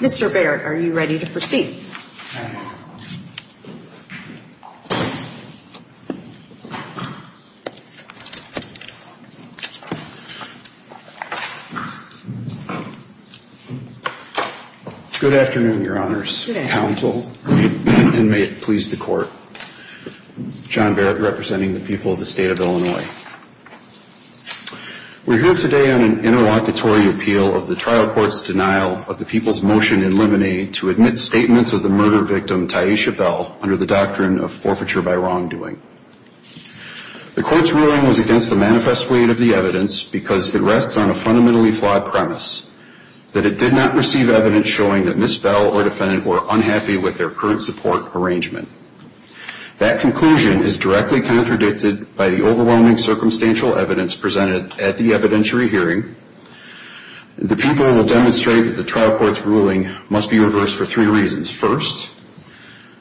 Mr. Barrett, are you ready to proceed? Good afternoon, your honors, counsel, and may it please the court. John Barrett representing the people of the state of Illinois. We're here today on an interlocutory appeal of the trial court's denial of the people's motion in Lemonade to admit statements of the murder by wrongdoing. The court's ruling was against the manifest weight of the evidence because it rests on a fundamentally flawed premise that it did not receive evidence showing that Ms. Bell or defendant were unhappy with their current support arrangement. That conclusion is directly contradicted by the overwhelming circumstantial evidence presented at the evidentiary hearing. The people will demonstrate that the trial court's ruling must be reversed for three reasons. First,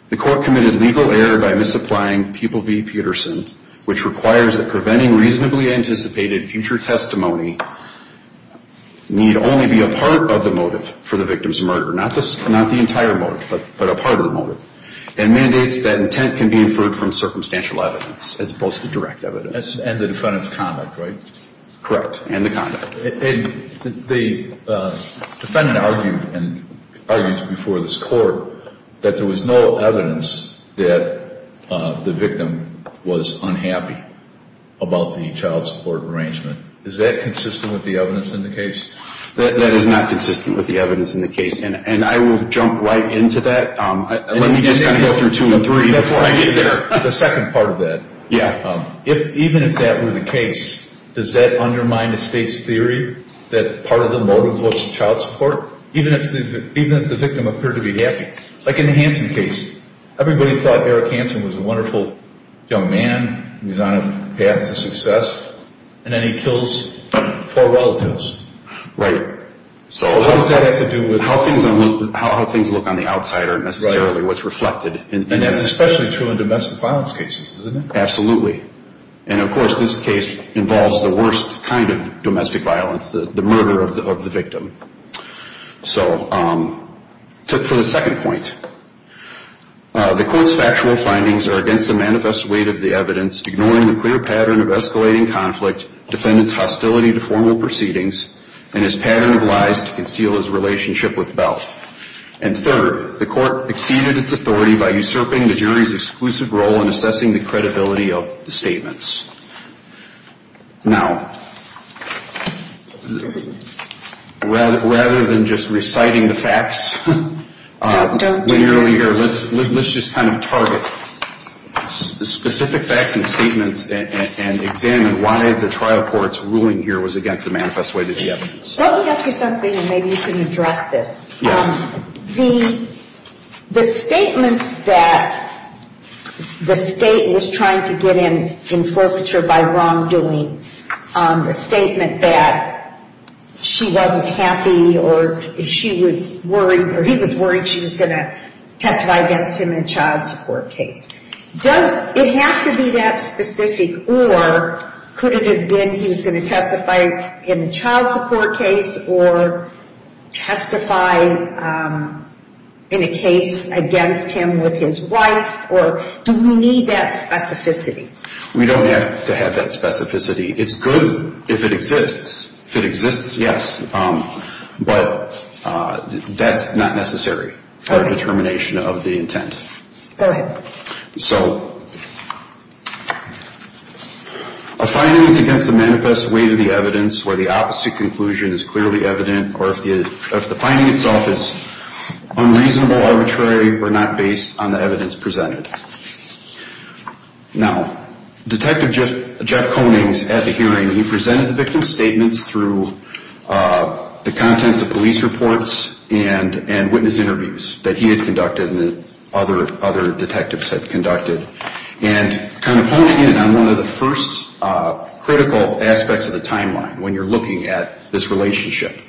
the court committed legal error by misapplying Pupil v. Peterson, which requires that preventing reasonably anticipated future testimony need only be a part of the motive for the victim's murder, not the entire motive, but a part of the motive, and mandates that intent can be inferred from circumstantial evidence as opposed to direct evidence. And the defendant's conduct, right? Correct. And the conduct. And the defendant argued and argued before this court that there was no evidence that the victim was unhappy about the child support arrangement. Is that consistent with the evidence in the case? That is not consistent with the evidence in the case. And I will jump right into that. Let me just kind of go through two and three before I get there. The second part of that. Yeah. If even if that were the case, does that undermine the state's theory that part of the motive was child support, even if the victim appeared to be happy? Like in the Hansen case, everybody thought Eric Hansen was a wonderful young man, he was on a path to success, and then he kills four relatives. Right. So what does that have to do with how things look on the outside aren't necessarily what's reflected. And that's especially true in domestic violence cases, isn't it? Absolutely. And of course, this case involves the worst kind of domestic violence, the murder of the victim. So for the second point, the court's factual findings are against the manifest weight of the evidence, ignoring the clear pattern of escalating conflict, defendant's hostility to formal proceedings, and his pattern of lies to conceal his relationship with Bell. And third, the court exceeded its authority by usurping the jury's exclusive role in assessing the credibility of the statements. Now, rather than just reciting the facts, let's just kind of target specific facts and statements and examine why the trial court's ruling here was against the manifest weight of the evidence. Let me ask you something and maybe you can address this. Yes. The statements that the state was trying to get in forfeiture by wrongdoing, the statement that she wasn't happy or she was worried or he was worried she was going to testify against him in a child support case. Does it have to be that specific or could it have been he was going to testify in a child support case or testify in a case against him with his wife or do we need that specificity? We don't have to have that specificity. It's good if it exists. If it exists, yes. But that's not necessary for determination of the intent. Go ahead. So a finding is against the manifest weight of the evidence where the opposite conclusion is clearly evident or if the finding itself is unreasonable, arbitrary or not based on the evidence presented. Now, Detective Jeff Konings at the hearing, he presented the victim's statements through the contents of police reports and witness interviews that he had conducted and kind of pointed in on one of the first critical aspects of the timeline when you're looking at this relationship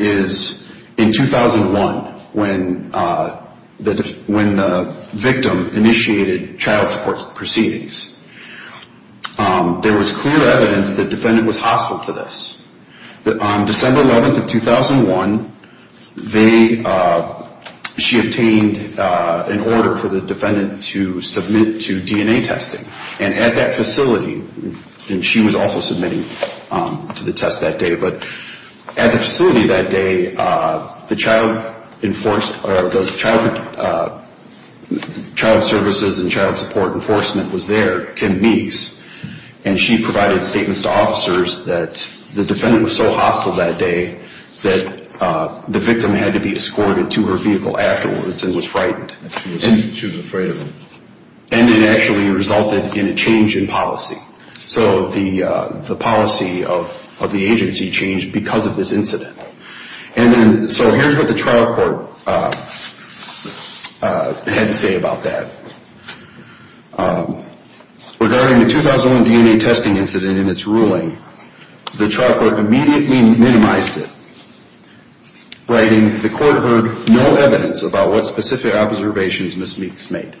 is in 2001 when the victim initiated child support proceedings. There was clear evidence that the defendant was hostile to this. On December 11th of 2001, she obtained an order for the defendant to submit to DNA testing. And at that facility, and she was also submitting to the test that day, but at the facility that day, the child services and child support enforcement was there, Kim Meese, and she provided statements to officers that the defendant was so hostile that day that the victim had to be escorted to her vehicle afterwards and was frightened. She was afraid of him. And it actually resulted in a change in policy. So the policy of the agency changed because of this incident. And then, so here's what the trial court had to say about that. Regarding the 2001 DNA testing incident and its ruling, the trial court immediately minimized it, writing, the court heard no evidence about what specific observations Ms. Meese made.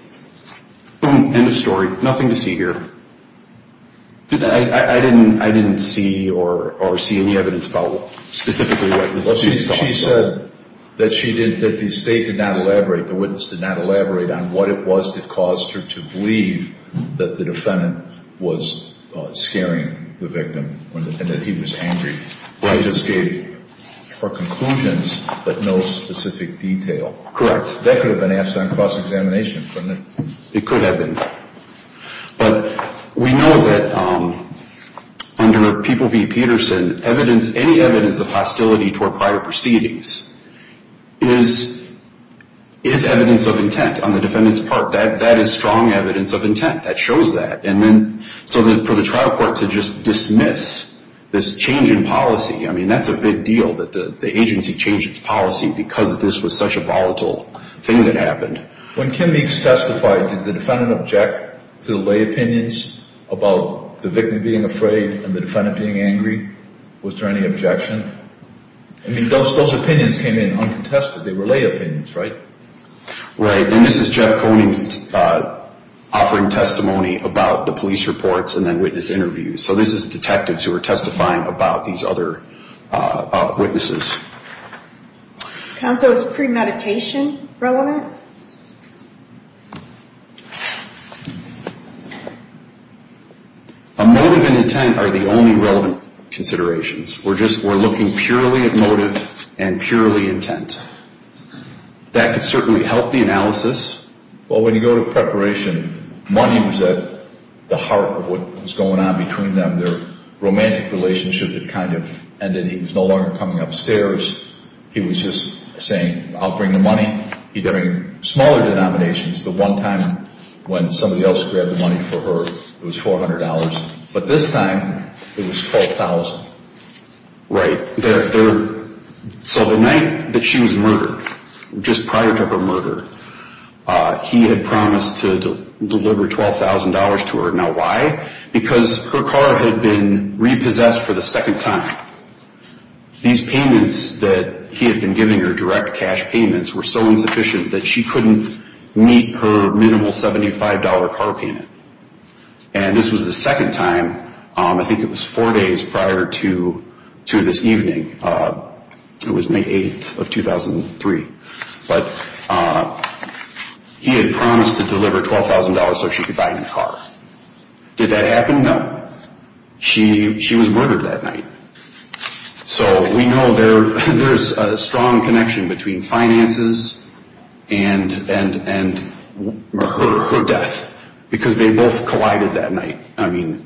Boom. End of story. Nothing to see here. I didn't see or see any evidence about specifically what Ms. Meese thought. She said that the state did not elaborate, the witness did not elaborate on what it was that caused her to believe that the defendant was scaring the victim and that he was angry. I just gave her conclusions, but no specific detail. Correct. That could have been asked on cross-examination. It could have been. But we know that under People v. Peterson, evidence, any evidence of hostility toward prior proceedings is evidence of intent on the defendant's part. That is strong evidence of intent. That shows that. And then, so for the trial court to just dismiss this change in policy, I mean, that's a big deal that the agency changed its policy because this was such a volatile thing that happened. When Kim Meese testified, did the defendant object to the lay opinions about the victim being afraid and the defendant being angry? Was there any objection? I mean, those opinions came in uncontested. They were lay opinions, right? Right. And this is Jeff Koenig's offering testimony about the police reports and then witness interviews. So this is detectives who are testifying about these other witnesses. Counsel, is premeditation relevant? Motive and intent are the only relevant considerations. We're looking purely at motive and purely intent. That could certainly help the analysis. Well, when you go to preparation, money was at the heart of what was going on between them. Their romantic relationship had kind of ended. He was no longer coming upstairs. He was just saying, I'll bring the money. He'd bring smaller denominations. The one time when somebody else grabbed the money for her, it was $400. But this time, it was $12,000. Right. So the night that she was murdered, just prior to her murder, he had promised to deliver $12,000 to her. Now why? Because her car had been repossessed for the second time. These payments that he had been giving her, direct cash payments, were so insufficient that she couldn't meet her minimal $75 car payment. And this was the second time, I think it was four days prior to this evening. It was May 8th of 2003. But he had promised to deliver $12,000 so she could buy a new car. Did that happen? No. She was murdered that night. So we know there's a strong connection between finances and her death. Because they both collided that night. I mean,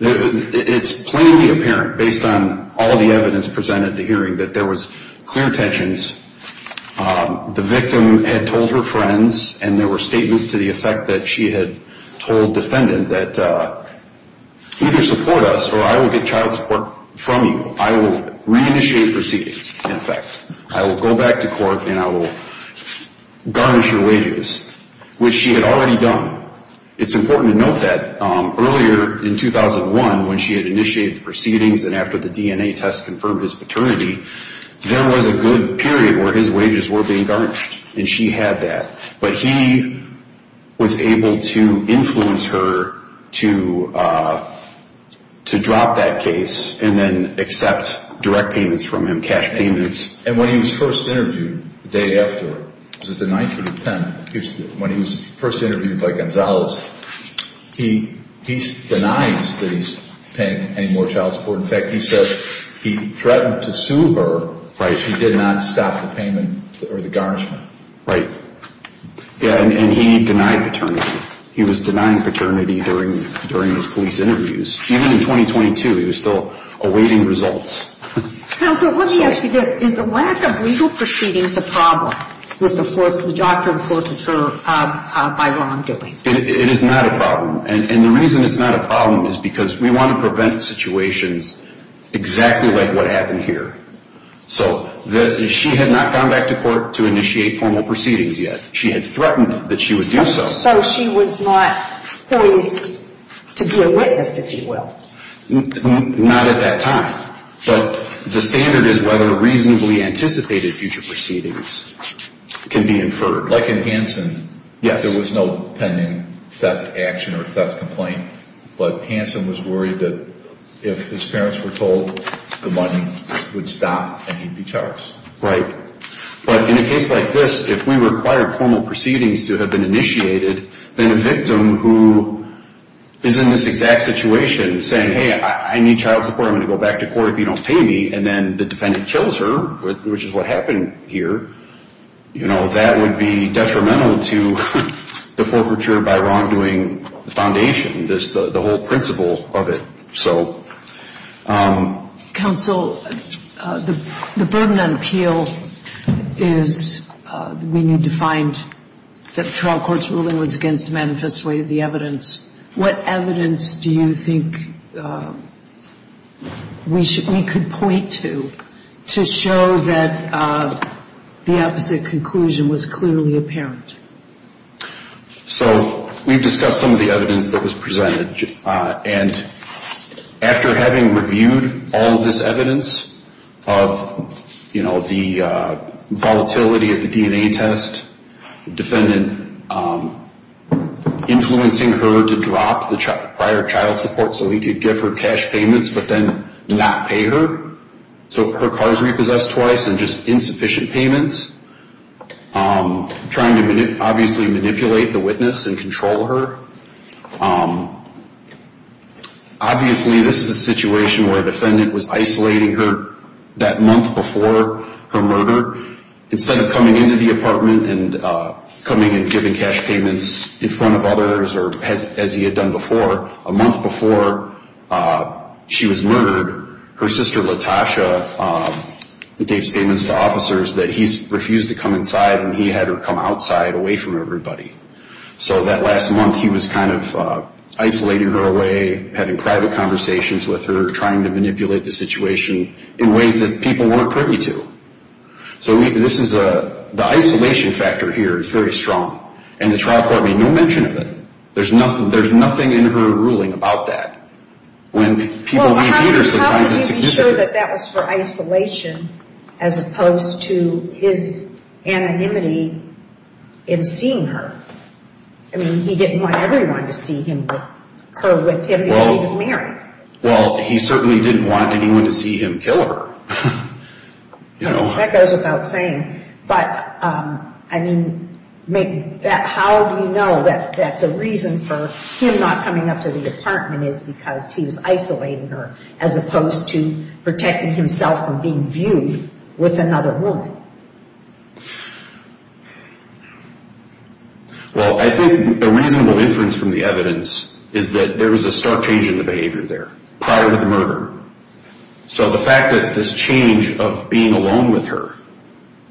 it's plainly apparent, based on all the evidence presented at the hearing, that there was clear tensions. The victim had told her friends and there were statements to the effect that she had told the defendant that either support us or I will get child support from you. I will reinitiate proceedings. In fact, I will go back to court and I will garnish her wages, which she had already done. It's important to note that earlier in 2001 when she had initiated the proceedings and after the DNA test confirmed his paternity, there was a good period where his wages were being garnished. And she had that. But he was able to influence her to drop that case and then accept direct payments from him, cash payments. And when he was first interviewed the day after, was it the 9th or the 10th, when he was first interviewed by Gonzales, he denies that he's paying any more child support. In fact, he says he threatened to sue her if she did not stop the payment or the garnishing. Right. And he denied paternity. He was denying paternity during his police interviews. Even in 2022, he was still awaiting results. Counselor, let me ask you this. Is the lack of legal proceedings a problem with the doctor enforcing her by wrongdoing? It is not a problem. And the reason it's not a problem is because we want to prevent situations exactly like what happened here. So she had not gone back to court to initiate formal proceedings yet. She had threatened that she would do so. So she was not poised to be a witness, if you will? Not at that time. But the standard is whether reasonably anticipated future proceedings can be inferred. Like in Hansen, there was no pending theft action or theft complaint. But Hansen was worried that if his parents were told, the money would stop and he'd be charged. Right. But in a case like this, if we require formal proceedings to have been initiated, then a victim who is in this exact situation saying, hey, I need child support, I'm going to go back to court if you don't pay me, and then the defendant kills her, which is what happened here, you know, that would be detrimental to the forfeiture by wrongdoing foundation, the whole principle of it. So. Counsel, the burden on appeal is we need to find that the trial court's ruling was against manifestly the evidence. What evidence do you think we should, we The opposite conclusion was clearly apparent. So we've discussed some of the evidence that was presented. And after having reviewed all of this evidence of, you know, the volatility of the DNA test, defendant influencing her to drop the prior child support so he could give her cash payments, but then not pay her. So her car's repossessed twice and just insufficient payments. Trying to obviously manipulate the witness and control her. Obviously, this is a situation where a defendant was isolating her that month before her murder. Instead of coming into the apartment and coming and giving cash payments in front of others, or as he had done before, a month before she was murdered, her sister, Latasha, gave statements to officers that he's refused to come inside and he had her come outside, away from everybody. So that last month he was kind of isolating her away, having private conversations with her, trying to manipulate the situation in ways that people weren't privy to. So this is a, the isolation factor here is very strong. And the trial court made no mention of it. There's nothing in her ruling about that. When people leave theaters, sometimes it's significant. How could he be sure that that was for isolation as opposed to his anonymity in seeing her? I mean, he didn't want everyone to see him, her with him, because he was married. Well, he certainly didn't want anyone to see him kill her. That goes without saying. But, I mean, how do you know that the reason for him not coming up to the apartment is because he was isolating her as opposed to protecting himself from being viewed with another woman? Well, I think a reasonable inference from the evidence is that there was a stark change in the behavior there, prior to the murder. So the fact that this change of being alone with her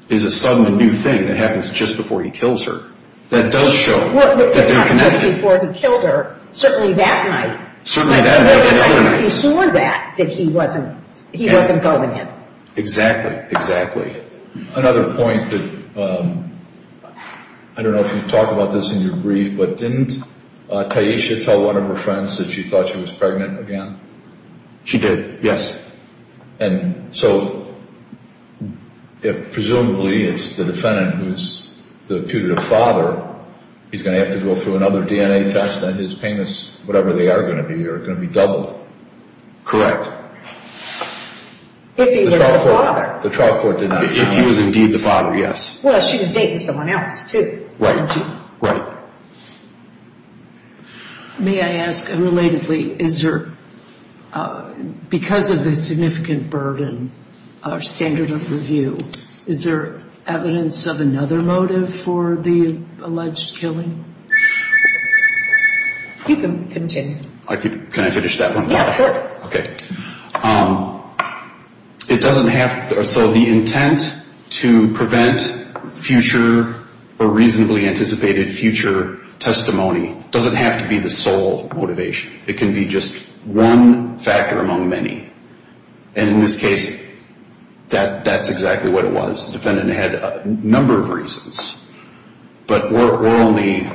is a sudden new thing that happens just before he kills her, that does show that they're connected. Well, it's not just before he killed her. Certainly that night. Certainly that night. He saw that, that he wasn't, he wasn't going in. Exactly, exactly. Another point that, I don't know if you've talked about this in your brief, but didn't Taisha tell one of her friends that she thought she was pregnant again? She did, yes. And so, if presumably it's the defendant who's the putative father, he's going to have to go through another DNA test and his payments, whatever they are going to be, are going to be doubled. Correct. If he was the father. The trial court did not comment. If he was indeed the father, yes. Well, she was dating someone else too, wasn't she? Right, right. May I ask, and is there another motive for the alleged killing? You can continue. Can I finish that one? Yes, of course. Okay. It doesn't have, so the intent to prevent future, or reasonably anticipated future testimony doesn't have to be the sole motivation. It can be just one factor among many. And in this case, that's exactly what it was. The defendant had a number of reasons, but we're only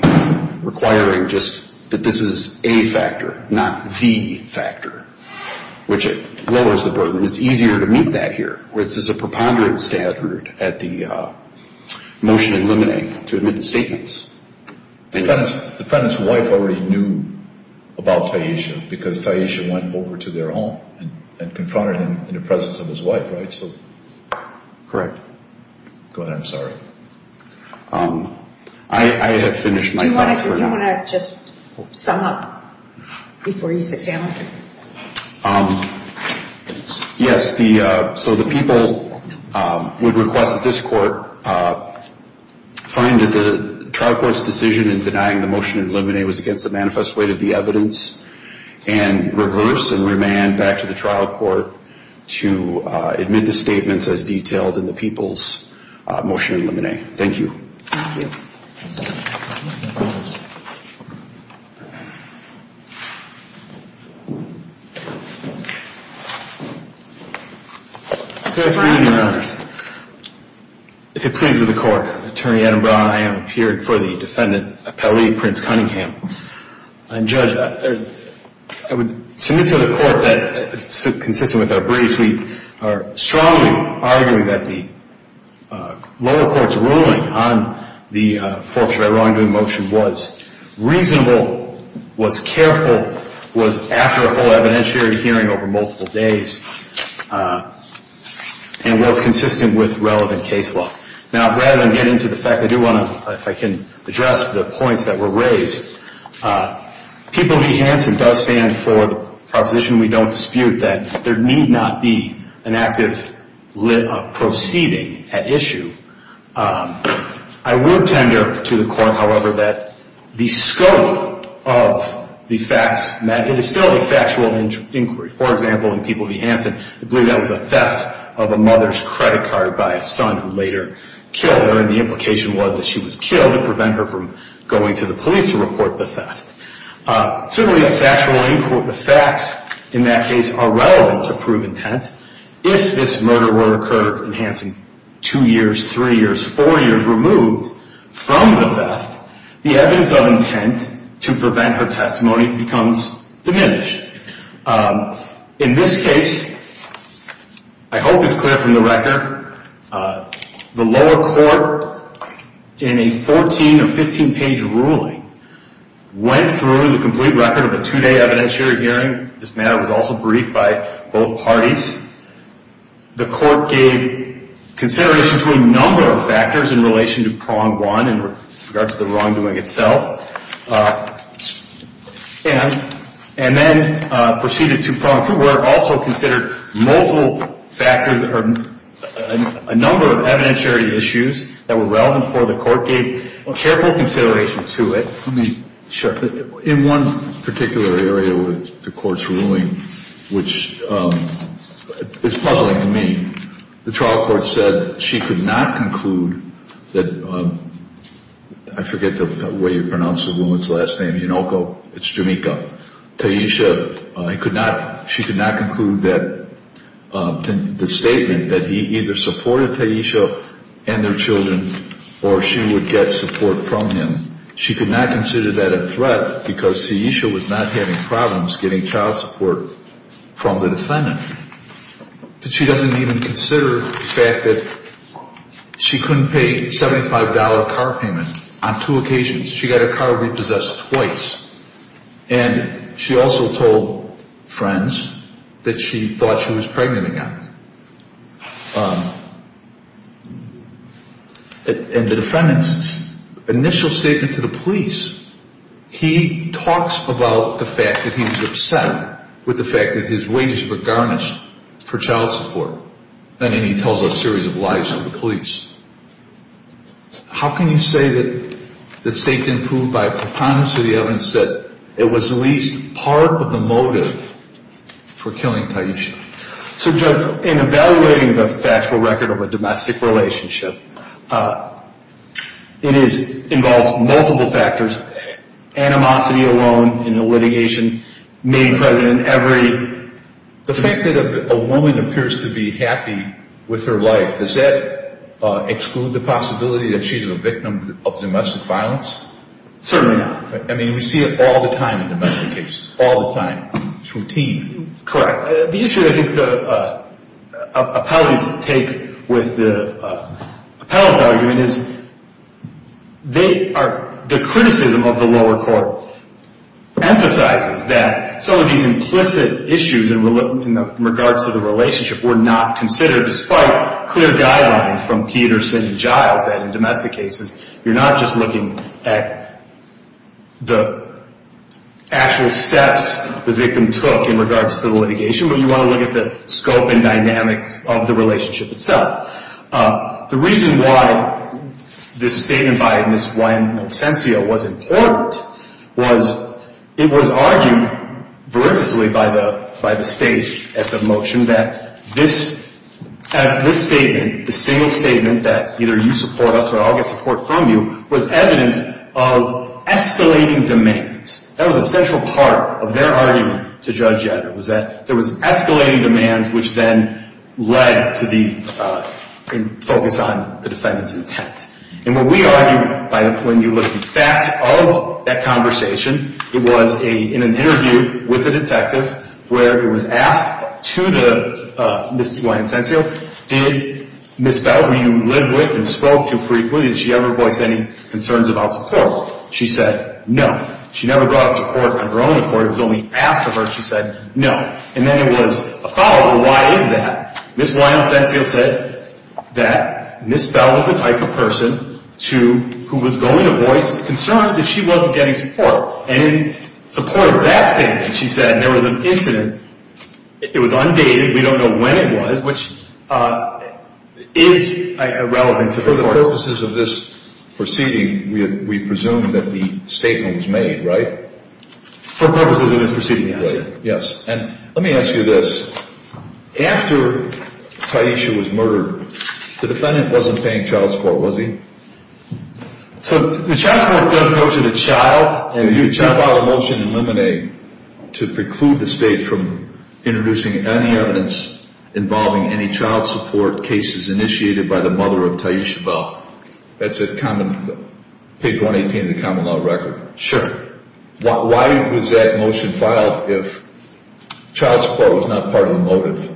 requiring just that this is a factor, not the factor, which lowers the burden. It's easier to meet that here, where this is a preponderance standard at the motion in limine to admit statements. The defendant's wife already knew about Taisha, because Taisha went over to their home and confronted him in the presence of his wife, right? Correct. Go ahead, I'm sorry. I have finished my thoughts. Do you want to just sum up before you sit down? Yes, so the people would request that this court find that the trial court's decision in denying the motion in limine was against the manifest weight of the evidence, and reverse and remand back to the trial court to admit the statements as detailed in the people's motion in limine. Thank you. If it pleases the court, Attorney Adam Braun, I am here for the defendant Appellee Prince Cunningham. And Judge, I would submit to the court that consistent with our briefs, we are strongly arguing that the lower court's ruling on the forfeiture by wrongdoing motion was reasonable, was careful, was after a full evidentiary hearing over multiple days, and was consistent with relevant case law. Now, rather than get into the facts, I do want to, if I can, address the points that were raised. People v. Hanson does stand for the proposition we don't dispute that there need not be an active proceeding at issue. I would tender to the court, however, that the scope of the facts, it is still a factual inquiry. For example, in people v. Hanson, I believe that was a theft of a mother's credit card by a son who later killed her, and the implication was that she was killed to prevent her from going to the police to report the theft. Certainly a factual inquiry, the facts in that case are relevant to prove intent. If this murder were to occur in Hanson two years, three years, four years removed from the theft, the evidence of intent to prevent her testimony becomes diminished. In this case, I hope it's clear from the record, the lower court, in a 14 or 15-page ruling, went through the complete record of a two-day evidentiary hearing. This matter was also briefed by both parties. The court gave consideration to a number of factors in relation to prong one in regards to the wrongdoing itself, and then proceeded to prong two, where it also considered multiple factors or a number of evidentiary issues that were relevant for the court, gave careful consideration to it. Let me check. In one particular area with the court's ruling, which is puzzling to me, the trial court said she could not conclude that, I forget the way you pronounce the woman's last name, Yonoko, it's Jamika, Taisha, she could not conclude that the statement that he either supported Taisha and their children or she would get support from him, she could not consider that a threat because Taisha was not having problems getting child support from the defendant. But she doesn't even consider the fact that she couldn't pay a $75 car payment on two occasions. She got her car repossessed twice. And she also told friends that she thought she was pregnant again. And the defendant's initial statement to the police, he talks about the fact that he was upset with the fact that his wages were garnished for child support. And then he tells a series of lies to the police. How can you say that the statement proved by a preponderance of the evidence that it was at least part of the motive for killing Taisha? So, Judge, in evaluating the factual record of a domestic relationship, it involves multiple factors. Animosity alone in the litigation made present in every... The fact that a woman appears to be happy with her life, does that exclude the possibility that she's a victim of domestic violence? Certainly not. I mean, we see it all the time in domestic cases. All the time. It's routine. Correct. The issue that I think the appellants take with the appellant's argument is, the criticism of the lower court emphasizes that some of these implicit issues in regards to the relationship were not considered, despite clear guidelines from Peterson and Giles that in domestic cases, you're not just looking at the actual steps the victim took in regards to the litigation, but you want to look at the scope and dynamics of the relationship itself. The reason why this statement by Ms. Juan Monsencio was important was, it was argued veritably by the state at the motion that this statement, the single statement that either you support us or I'll get support from you, was evidence of escalating demands. That was a central part of their argument to Judge Yadler, was that there was escalating demands which then led to the focus on the defendant's intent. And what we argue, when you look at the facts of that conversation, it was in an interview with a detective where it was asked to Ms. Juan Monsencio, did Ms. Bell, who you live with and spoke to frequently, did she ever voice any concerns about support? She said, no. She never brought up support on her own accord. It was only asked of her. She said, no. And then it was a follow-up, well why is that? Ms. Juan Monsencio said that Ms. Bell was the type of person who was going to voice concerns if she wasn't getting support. And in support of that statement, she said, and there was an incident, it was undated, we don't know when it was, which is irrelevant to the court. For the purposes of this proceeding, we presume that the statement was made, right? For purposes of this proceeding, yes. Yes. And let me ask you this. After Taisha was murdered, the defendant wasn't paying child support, was he? So the child support does go to the child. If you file a motion in limine to preclude the state from introducing any evidence involving any child support cases initiated by the mother of Taisha Bell, that's a common, page 118 of the common law record. Sure. Why was that motion filed if child support was not part of the motive?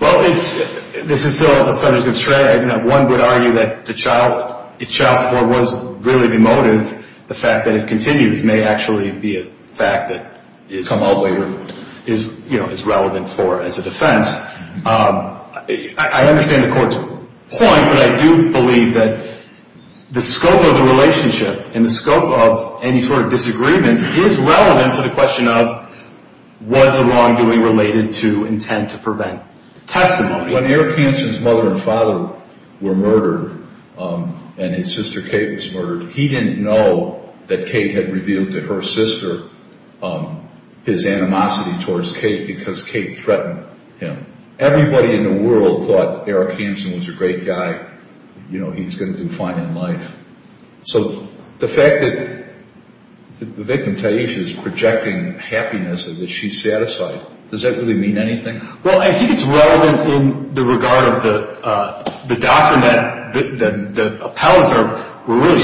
Well, this is still a subject of trade. One would argue that the child, if child support was really the motive, the fact that it continues may actually be a fact that has come all the way, is relevant for as a defense. I understand the court's point, but I do believe that the scope of the relationship and the scope of any sort of disagreements is relevant to the intent to prevent testimony. When Eric Hansen's mother and father were murdered and his sister Kate was murdered, he didn't know that Kate had revealed to her sister his animosity towards Kate because Kate threatened him. Everybody in the world thought Eric Hansen was a great guy. You know, he's going to do fine in life. So the fact that the victim, Taisha, is projecting happiness against her, that she's satisfied, does that really mean anything? Well, I think it's relevant in the regard of the doctrine that the appellants were really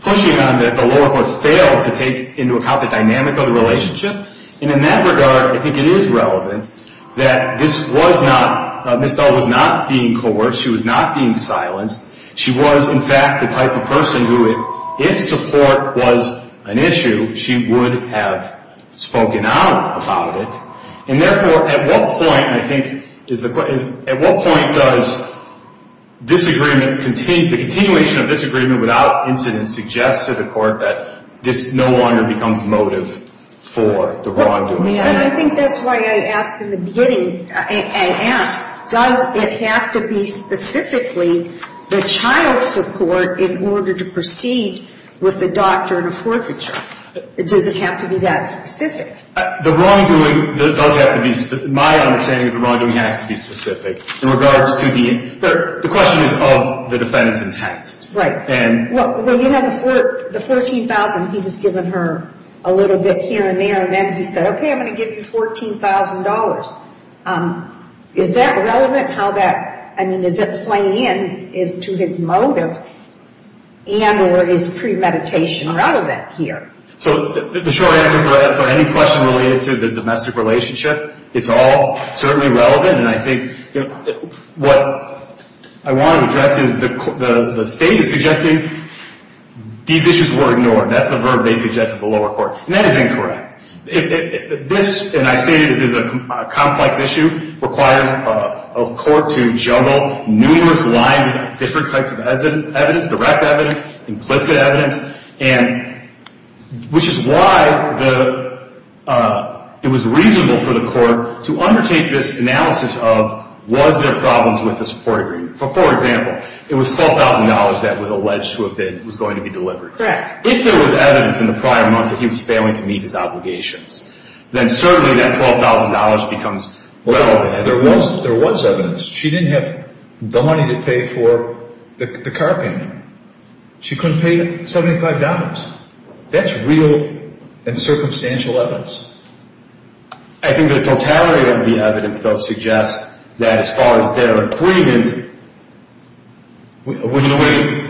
pushing on that the lower court failed to take into account the dynamic of the relationship. And in that regard, I think it is relevant that this was not, Ms. Bell was not being coerced. She was not being silenced. She was, in fact, the type of person who, if support was an issue, she would have spoken out about it. And therefore, at what point, I think, at what point does the continuation of disagreement without incident suggest to the court that this no longer becomes motive for the wrongdoing? I think that's why I asked in the beginning, I asked, does it have to be specifically the child's support in order to proceed with the doctrine of forfeiture? Does it have to be that specific? The wrongdoing does have to be, my understanding is the wrongdoing has to be specific in regards to the, the question is of the defendant's intent. Right. Well, you have the $14,000 he was giving her a little bit here and there, and then he said, okay, I'm going to give you $14,000. Is that relevant? How that, I mean, is it playing in, is to his motive, and or is premeditation relevant here? So, the short answer for any question related to the domestic relationship, it's all certainly relevant, and I think, you know, what I want to address is the state is suggesting these issues were ignored. That's the verb they suggest at the lower court, and that is incorrect. This, and I say this is a complex issue, requires a court to juggle numerous lines of different types of evidence, direct evidence, implicit evidence, and which is why the, it was reasonable for the court to undertake this analysis of, was there problems with the support agreement? For example, it was $12,000 that was alleged to have been, was going to be delivered. Correct. If there was evidence in the prior months that he was failing to meet his obligations, then certainly that $12,000 becomes relevant. Well, there was evidence. She didn't have the money to pay for the car payment. She couldn't pay $75. That's real and circumstantial evidence. I think the totality of the evidence, though, suggests that as far as their agreement, we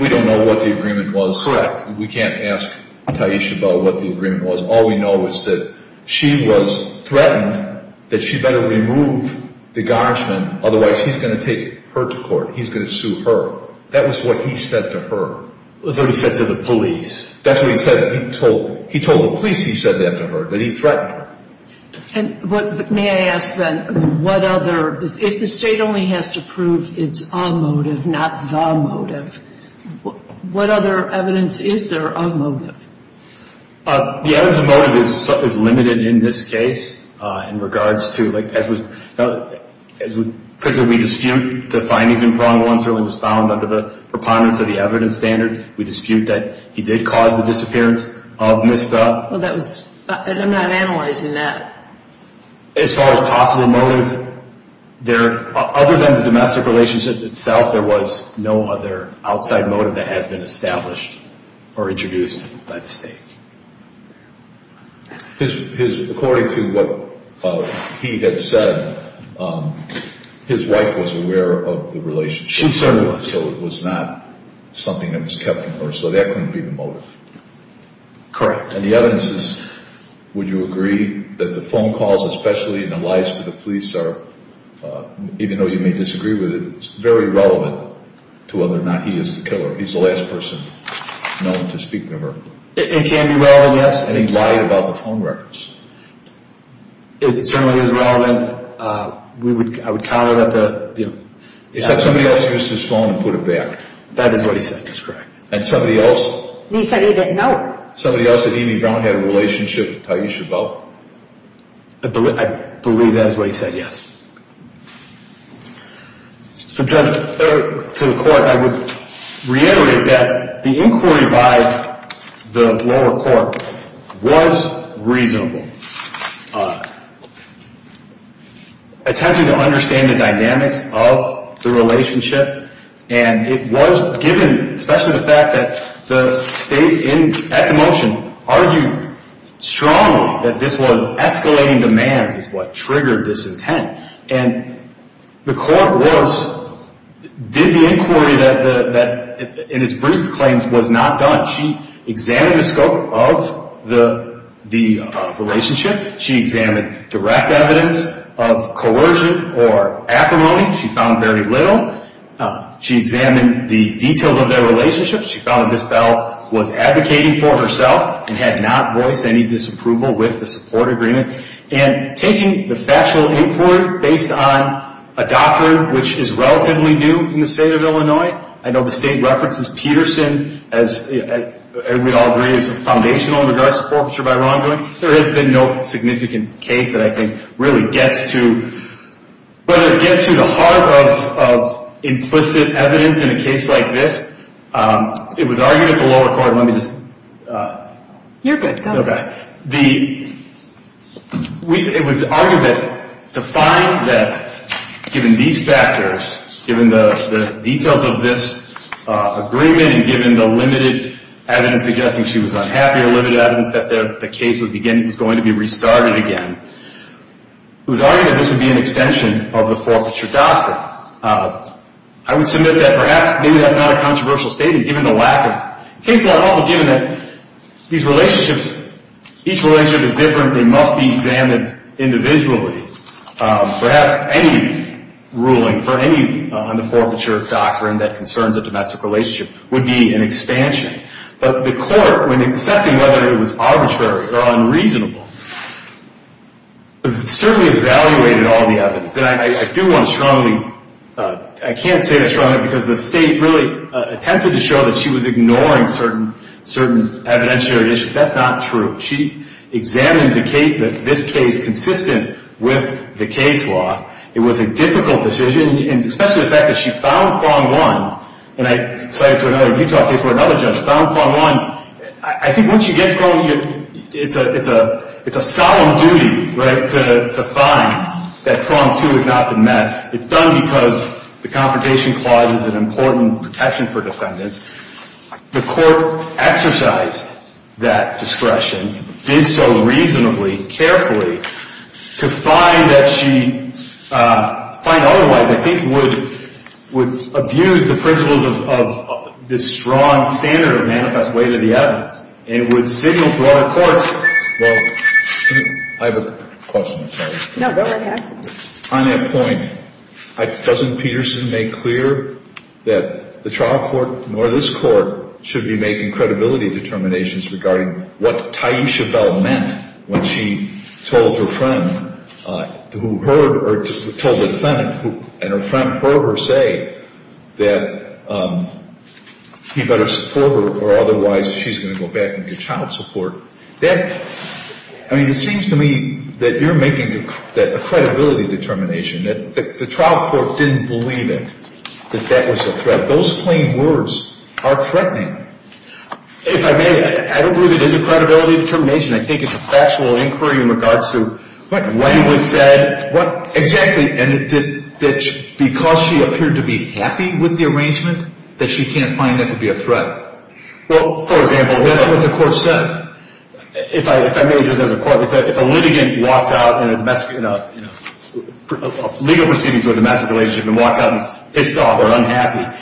don't know what the agreement was. Correct. We can't ask Taish about what the agreement was. All we know is that she was threatened that she better remove the garnishman, otherwise he's going to take her to court. He's going to sue her. That was what he said to her. That's what he said to the police. That's what he said. He told the police he said that to her, but he threatened her. And what, may I ask then, what other, if the State only has to prove it's a motive, not the motive, what other evidence is there of motive? The evidence of motive is limited in this case in regards to, like, as we, because we dispute the findings in prong one certainly was found under the preponderance of the evidence standard. We dispute that he did cause the disappearance of Ms. Bell. Well, that was, I'm not analyzing that. As far as possible motive, there, other than the domestic relationship itself, there was no other outside motive that has been established or introduced by the State. His, according to what he had said, his wife was aware of the relationship. She certainly was. So it was not something that was kept from her. So that couldn't be the motive. Correct. And the evidence is, would you agree that the phone calls, especially, and the lies for the police are, even though you may disagree with it, it's very relevant to whether or not he is the killer. He's the last person known to speak to her. It can be relevant, yes. And he lied about the phone records. It certainly is relevant. We would, I would call it at the, you know. He said somebody else used his phone and put it back. That is what he said. That's correct. And somebody else? He said he didn't know. Somebody else that Amy Brown had a relationship with, Taisha Bell? I believe that is what he said, yes. So, Judge, to the Court, I would reiterate that the inquiry by the lower court was reasonable. Attempting to understand the dynamics of the relationship, and it was given, especially the fact that the state at the motion argued strongly that this was escalating demands is what triggered this intent. And the court was, did the inquiry that in its brief claims was not done. She examined the scope of the relationship. She examined direct evidence of coercion or acrimony. She found very little. She examined the details of their relationship. She found that Ms. Bell was advocating for herself and had not voiced any disapproval with the support agreement. And taking the factual inquiry based on a doctrine which is relatively new in the state of Illinois. I know the state references Peterson as, we all agree, as foundational in regards to forfeiture by wrongdoing. There has been no significant case that I think really gets to, whether it gets to the heart of implicit evidence in a case like this. It was argued at the lower court, let me just. You're good, go ahead. Okay. It was argued that to find that given these factors, given the details of this agreement, and given the limited evidence suggesting she was unhappy or limited evidence that the case was going to be restarted again. It was argued that this would be an extension of the forfeiture doctrine. I would submit that perhaps maybe that's not a controversial statement given the lack of, case law also given that these relationships, each relationship is different. They must be examined individually. Perhaps any ruling for any on the forfeiture doctrine that concerns a domestic relationship would be an expansion. But the court, when assessing whether it was arbitrary or unreasonable, certainly evaluated all the evidence. And I do want to strongly, I can't say strongly because the state really attempted to show that she was ignoring certain evidentiary issues. That's not true. She examined this case consistent with the case law. It was a difficult decision, especially the fact that she found wrong one. And I cited to another Utah case where another judge found wrong one. I think once you get wrong, it's a solemn duty, right, to find that wrong two has not been met. It's done because the confrontation clause is an important protection for defendants. The court exercised that discretion, did so reasonably, carefully to find that she, otherwise I think would abuse the principles of this strong standard of manifest way to the evidence. And it would signal to other courts, well, I have a question. No, go right ahead. On that point, doesn't Peterson make clear that the trial court or this court should be making credibility determinations regarding what Tyisha Bell meant when she told her friend who heard, or told the defendant, and her friend heard her say that he better support her or otherwise she's going to go back and get child support. I mean, it seems to me that you're making a credibility determination, that the trial court didn't believe it, that that was a threat. Those plain words are threatening. If I may, I don't believe it is a credibility determination. I think it's a factual inquiry in regards to what was said. Exactly. And that because she appeared to be happy with the arrangement, that she can't find that to be a threat. Well, for example, that's what the court said. If a litigant walks out in a legal proceedings with a domestic relationship and walks out and is pissed off or unhappy,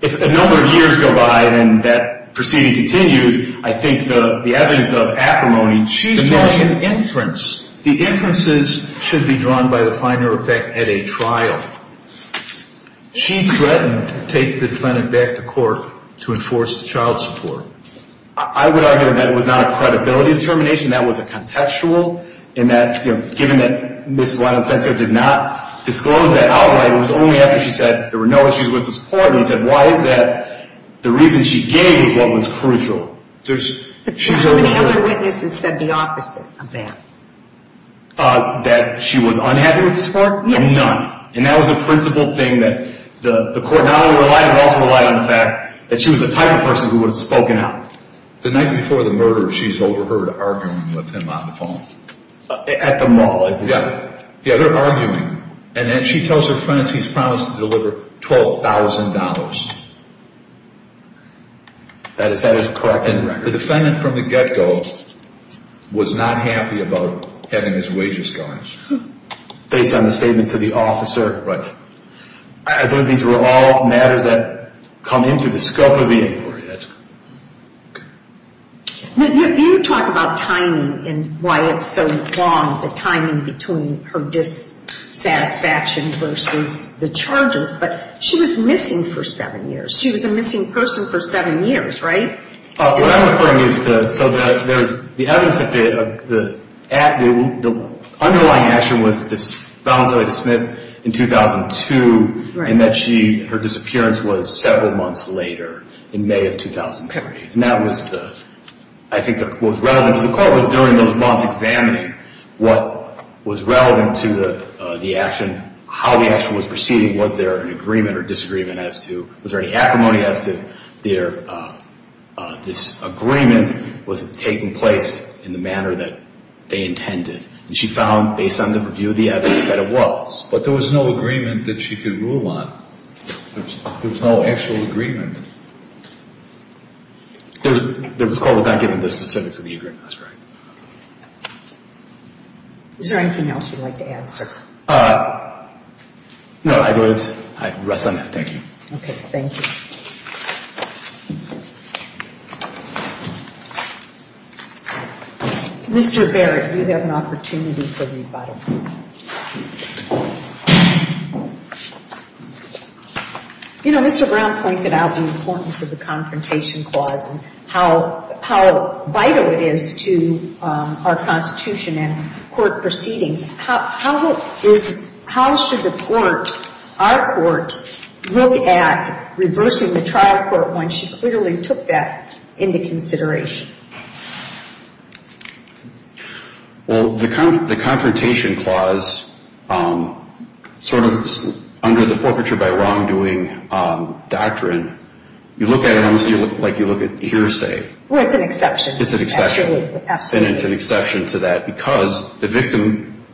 if a number of years go by and that proceeding continues, I think the evidence of acrimony, she's drawing an inference. The inferences should be drawn by the finer effect at a trial. She threatened to take the defendant back to court to enforce the child support. I would argue that it was not a credibility determination. That was a contextual in that, you know, given that Ms. Wildsensor did not disclose that outright, it was only after she said there were no issues with the support and he said, why is that? The reason she gave is what was crucial. But the other witnesses said the opposite of that. That she was unhappy with the support? Yes. None. And that was a principal thing that the court not only relied, but also relied on the fact that she was the type of person who would have spoken out. The night before the murder, she's overheard arguing with him on the phone. At the mall. Yeah. Yeah, they're arguing. And then she tells her friends he's promised to deliver $12,000. That is correct. The defendant from the get-go was not happy about having his wages garnished. Based on the statement to the officer. Right. I believe these were all matters that come into the scope of the inquiry. That's correct. You talk about timing and why it's so long, the timing between her dissatisfaction versus the charges. But she was missing for seven years. She was a missing person for seven years, right? What I'm referring to is the evidence that the underlying action was found to be dismissed in 2002. Right. And that she, her disappearance was several months later, in May of 2003. And that was, I think, was relevant to the court was during those months examining what was relevant to the action, how the action was proceeding. Was there an agreement or disagreement as to, was there any acrimony as to their, this agreement, was it taking place in the manner that they intended? And she found, based on the review of the evidence, that it was. But there was no agreement that she could rule on. There was no actual agreement. It was called without giving the specifics of the agreement. That's right. Is there anything else you'd like to add, sir? No. I rest on that. Thank you. Okay. Thank you. Mr. Barrett, you have an opportunity for rebuttal. You know, Mr. Brown pointed out the importance of the Confrontation Clause and how vital it is to our Constitution and court proceedings. How should the court, our court, look at reversing the trial court when she clearly took that into consideration? Well, the Confrontation Clause, sort of under the forfeiture by wrongdoing doctrine, you look at it almost like you look at hearsay. Well, it's an exception. It's an exception. Absolutely. And it's an exception to that because the victim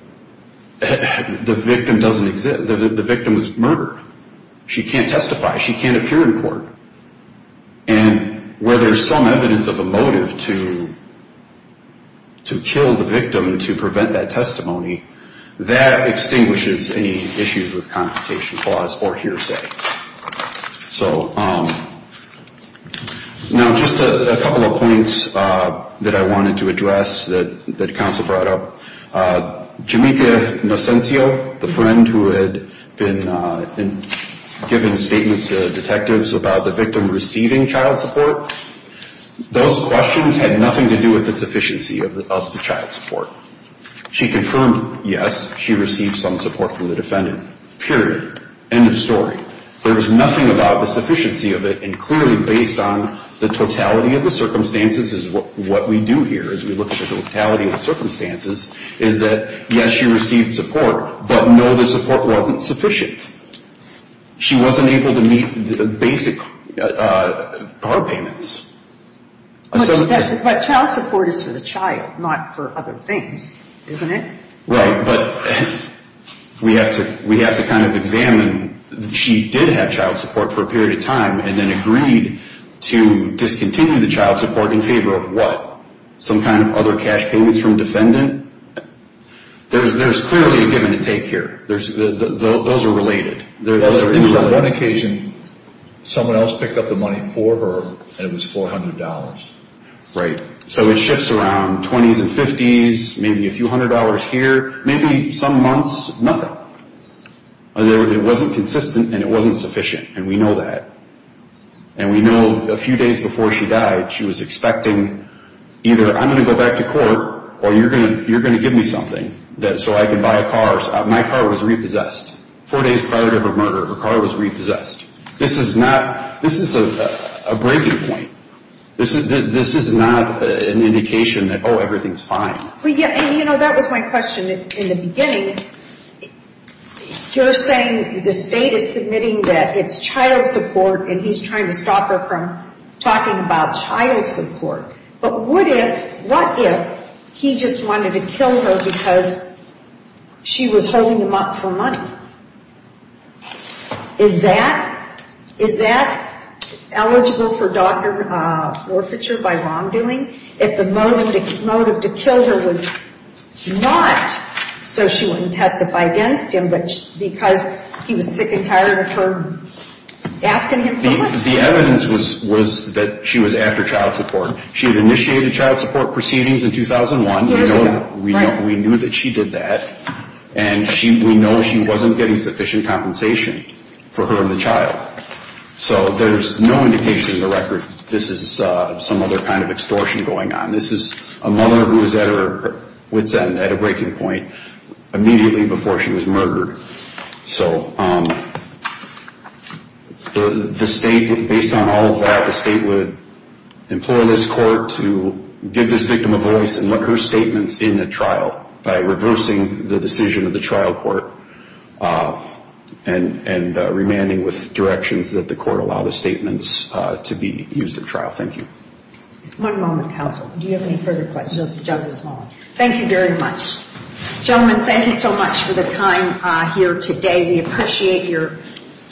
doesn't exist. The victim was murdered. She can't testify. She can't appear in court. And where there's some evidence of a motive to kill the victim to prevent that testimony, that extinguishes any issues with Confrontation Clause or hearsay. So, now just a couple of points that I wanted to address that counsel brought up. Jamaica Nocencio, the friend who had been giving statements to detectives about the victim receiving child support, those questions had nothing to do with the sufficiency of the child support. She confirmed, yes, she received some support from the defendant. Period. End of story. There was nothing about the sufficiency of it. And clearly, based on the totality of the circumstances, is what we do here as we look at the totality of the circumstances, is that, yes, she received support, but no, the support wasn't sufficient. She wasn't able to meet the basic car payments. But child support is for the child, not for other things, isn't it? Right, but we have to kind of examine that she did have child support for a period of time and then agreed to discontinue the child support in favor of what? Some kind of other cash payments from defendant? There's clearly a give and a take here. Those are related. There was one occasion someone else picked up the money for her and it was $400. Right. So it shifts around 20s and 50s, maybe a few hundred dollars here, maybe some months, nothing. It wasn't consistent and it wasn't sufficient, and we know that. And we know a few days before she died, she was expecting either I'm going to go back to court or you're going to give me something so I can buy a car. My car was repossessed. Four days prior to her murder, her car was repossessed. This is not, this is a breaking point. This is not an indication that, oh, everything's fine. And, you know, that was my question in the beginning. You're saying the state is submitting that it's child support and he's trying to stop her from talking about child support. But what if he just wanted to kill her because she was holding him up for money? Is that eligible for doctor forfeiture by wrongdoing? If the motive to kill her was not so she wouldn't testify against him but because he was sick and tired of her asking him for money? The evidence was that she was after child support. She had initiated child support proceedings in 2001. Years ago, right. And we know she wasn't getting sufficient compensation for her and the child. So there's no indication in the record this is some other kind of extortion going on. This is a mother who is at her wit's end, at a breaking point, immediately before she was murdered. So the state, based on all of that, the state would implore this court to give this victim a voice and let her statements in at trial by reversing the decision of the trial court and remanding with directions that the court allow the statements to be used at trial. Thank you. One moment, counsel. Do you have any further questions of Justice Small? Thank you very much. Gentlemen, thank you so much for the time here today. We appreciate your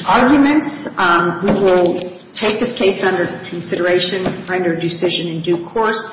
arguments. We will take this case under consideration, render a decision in due course.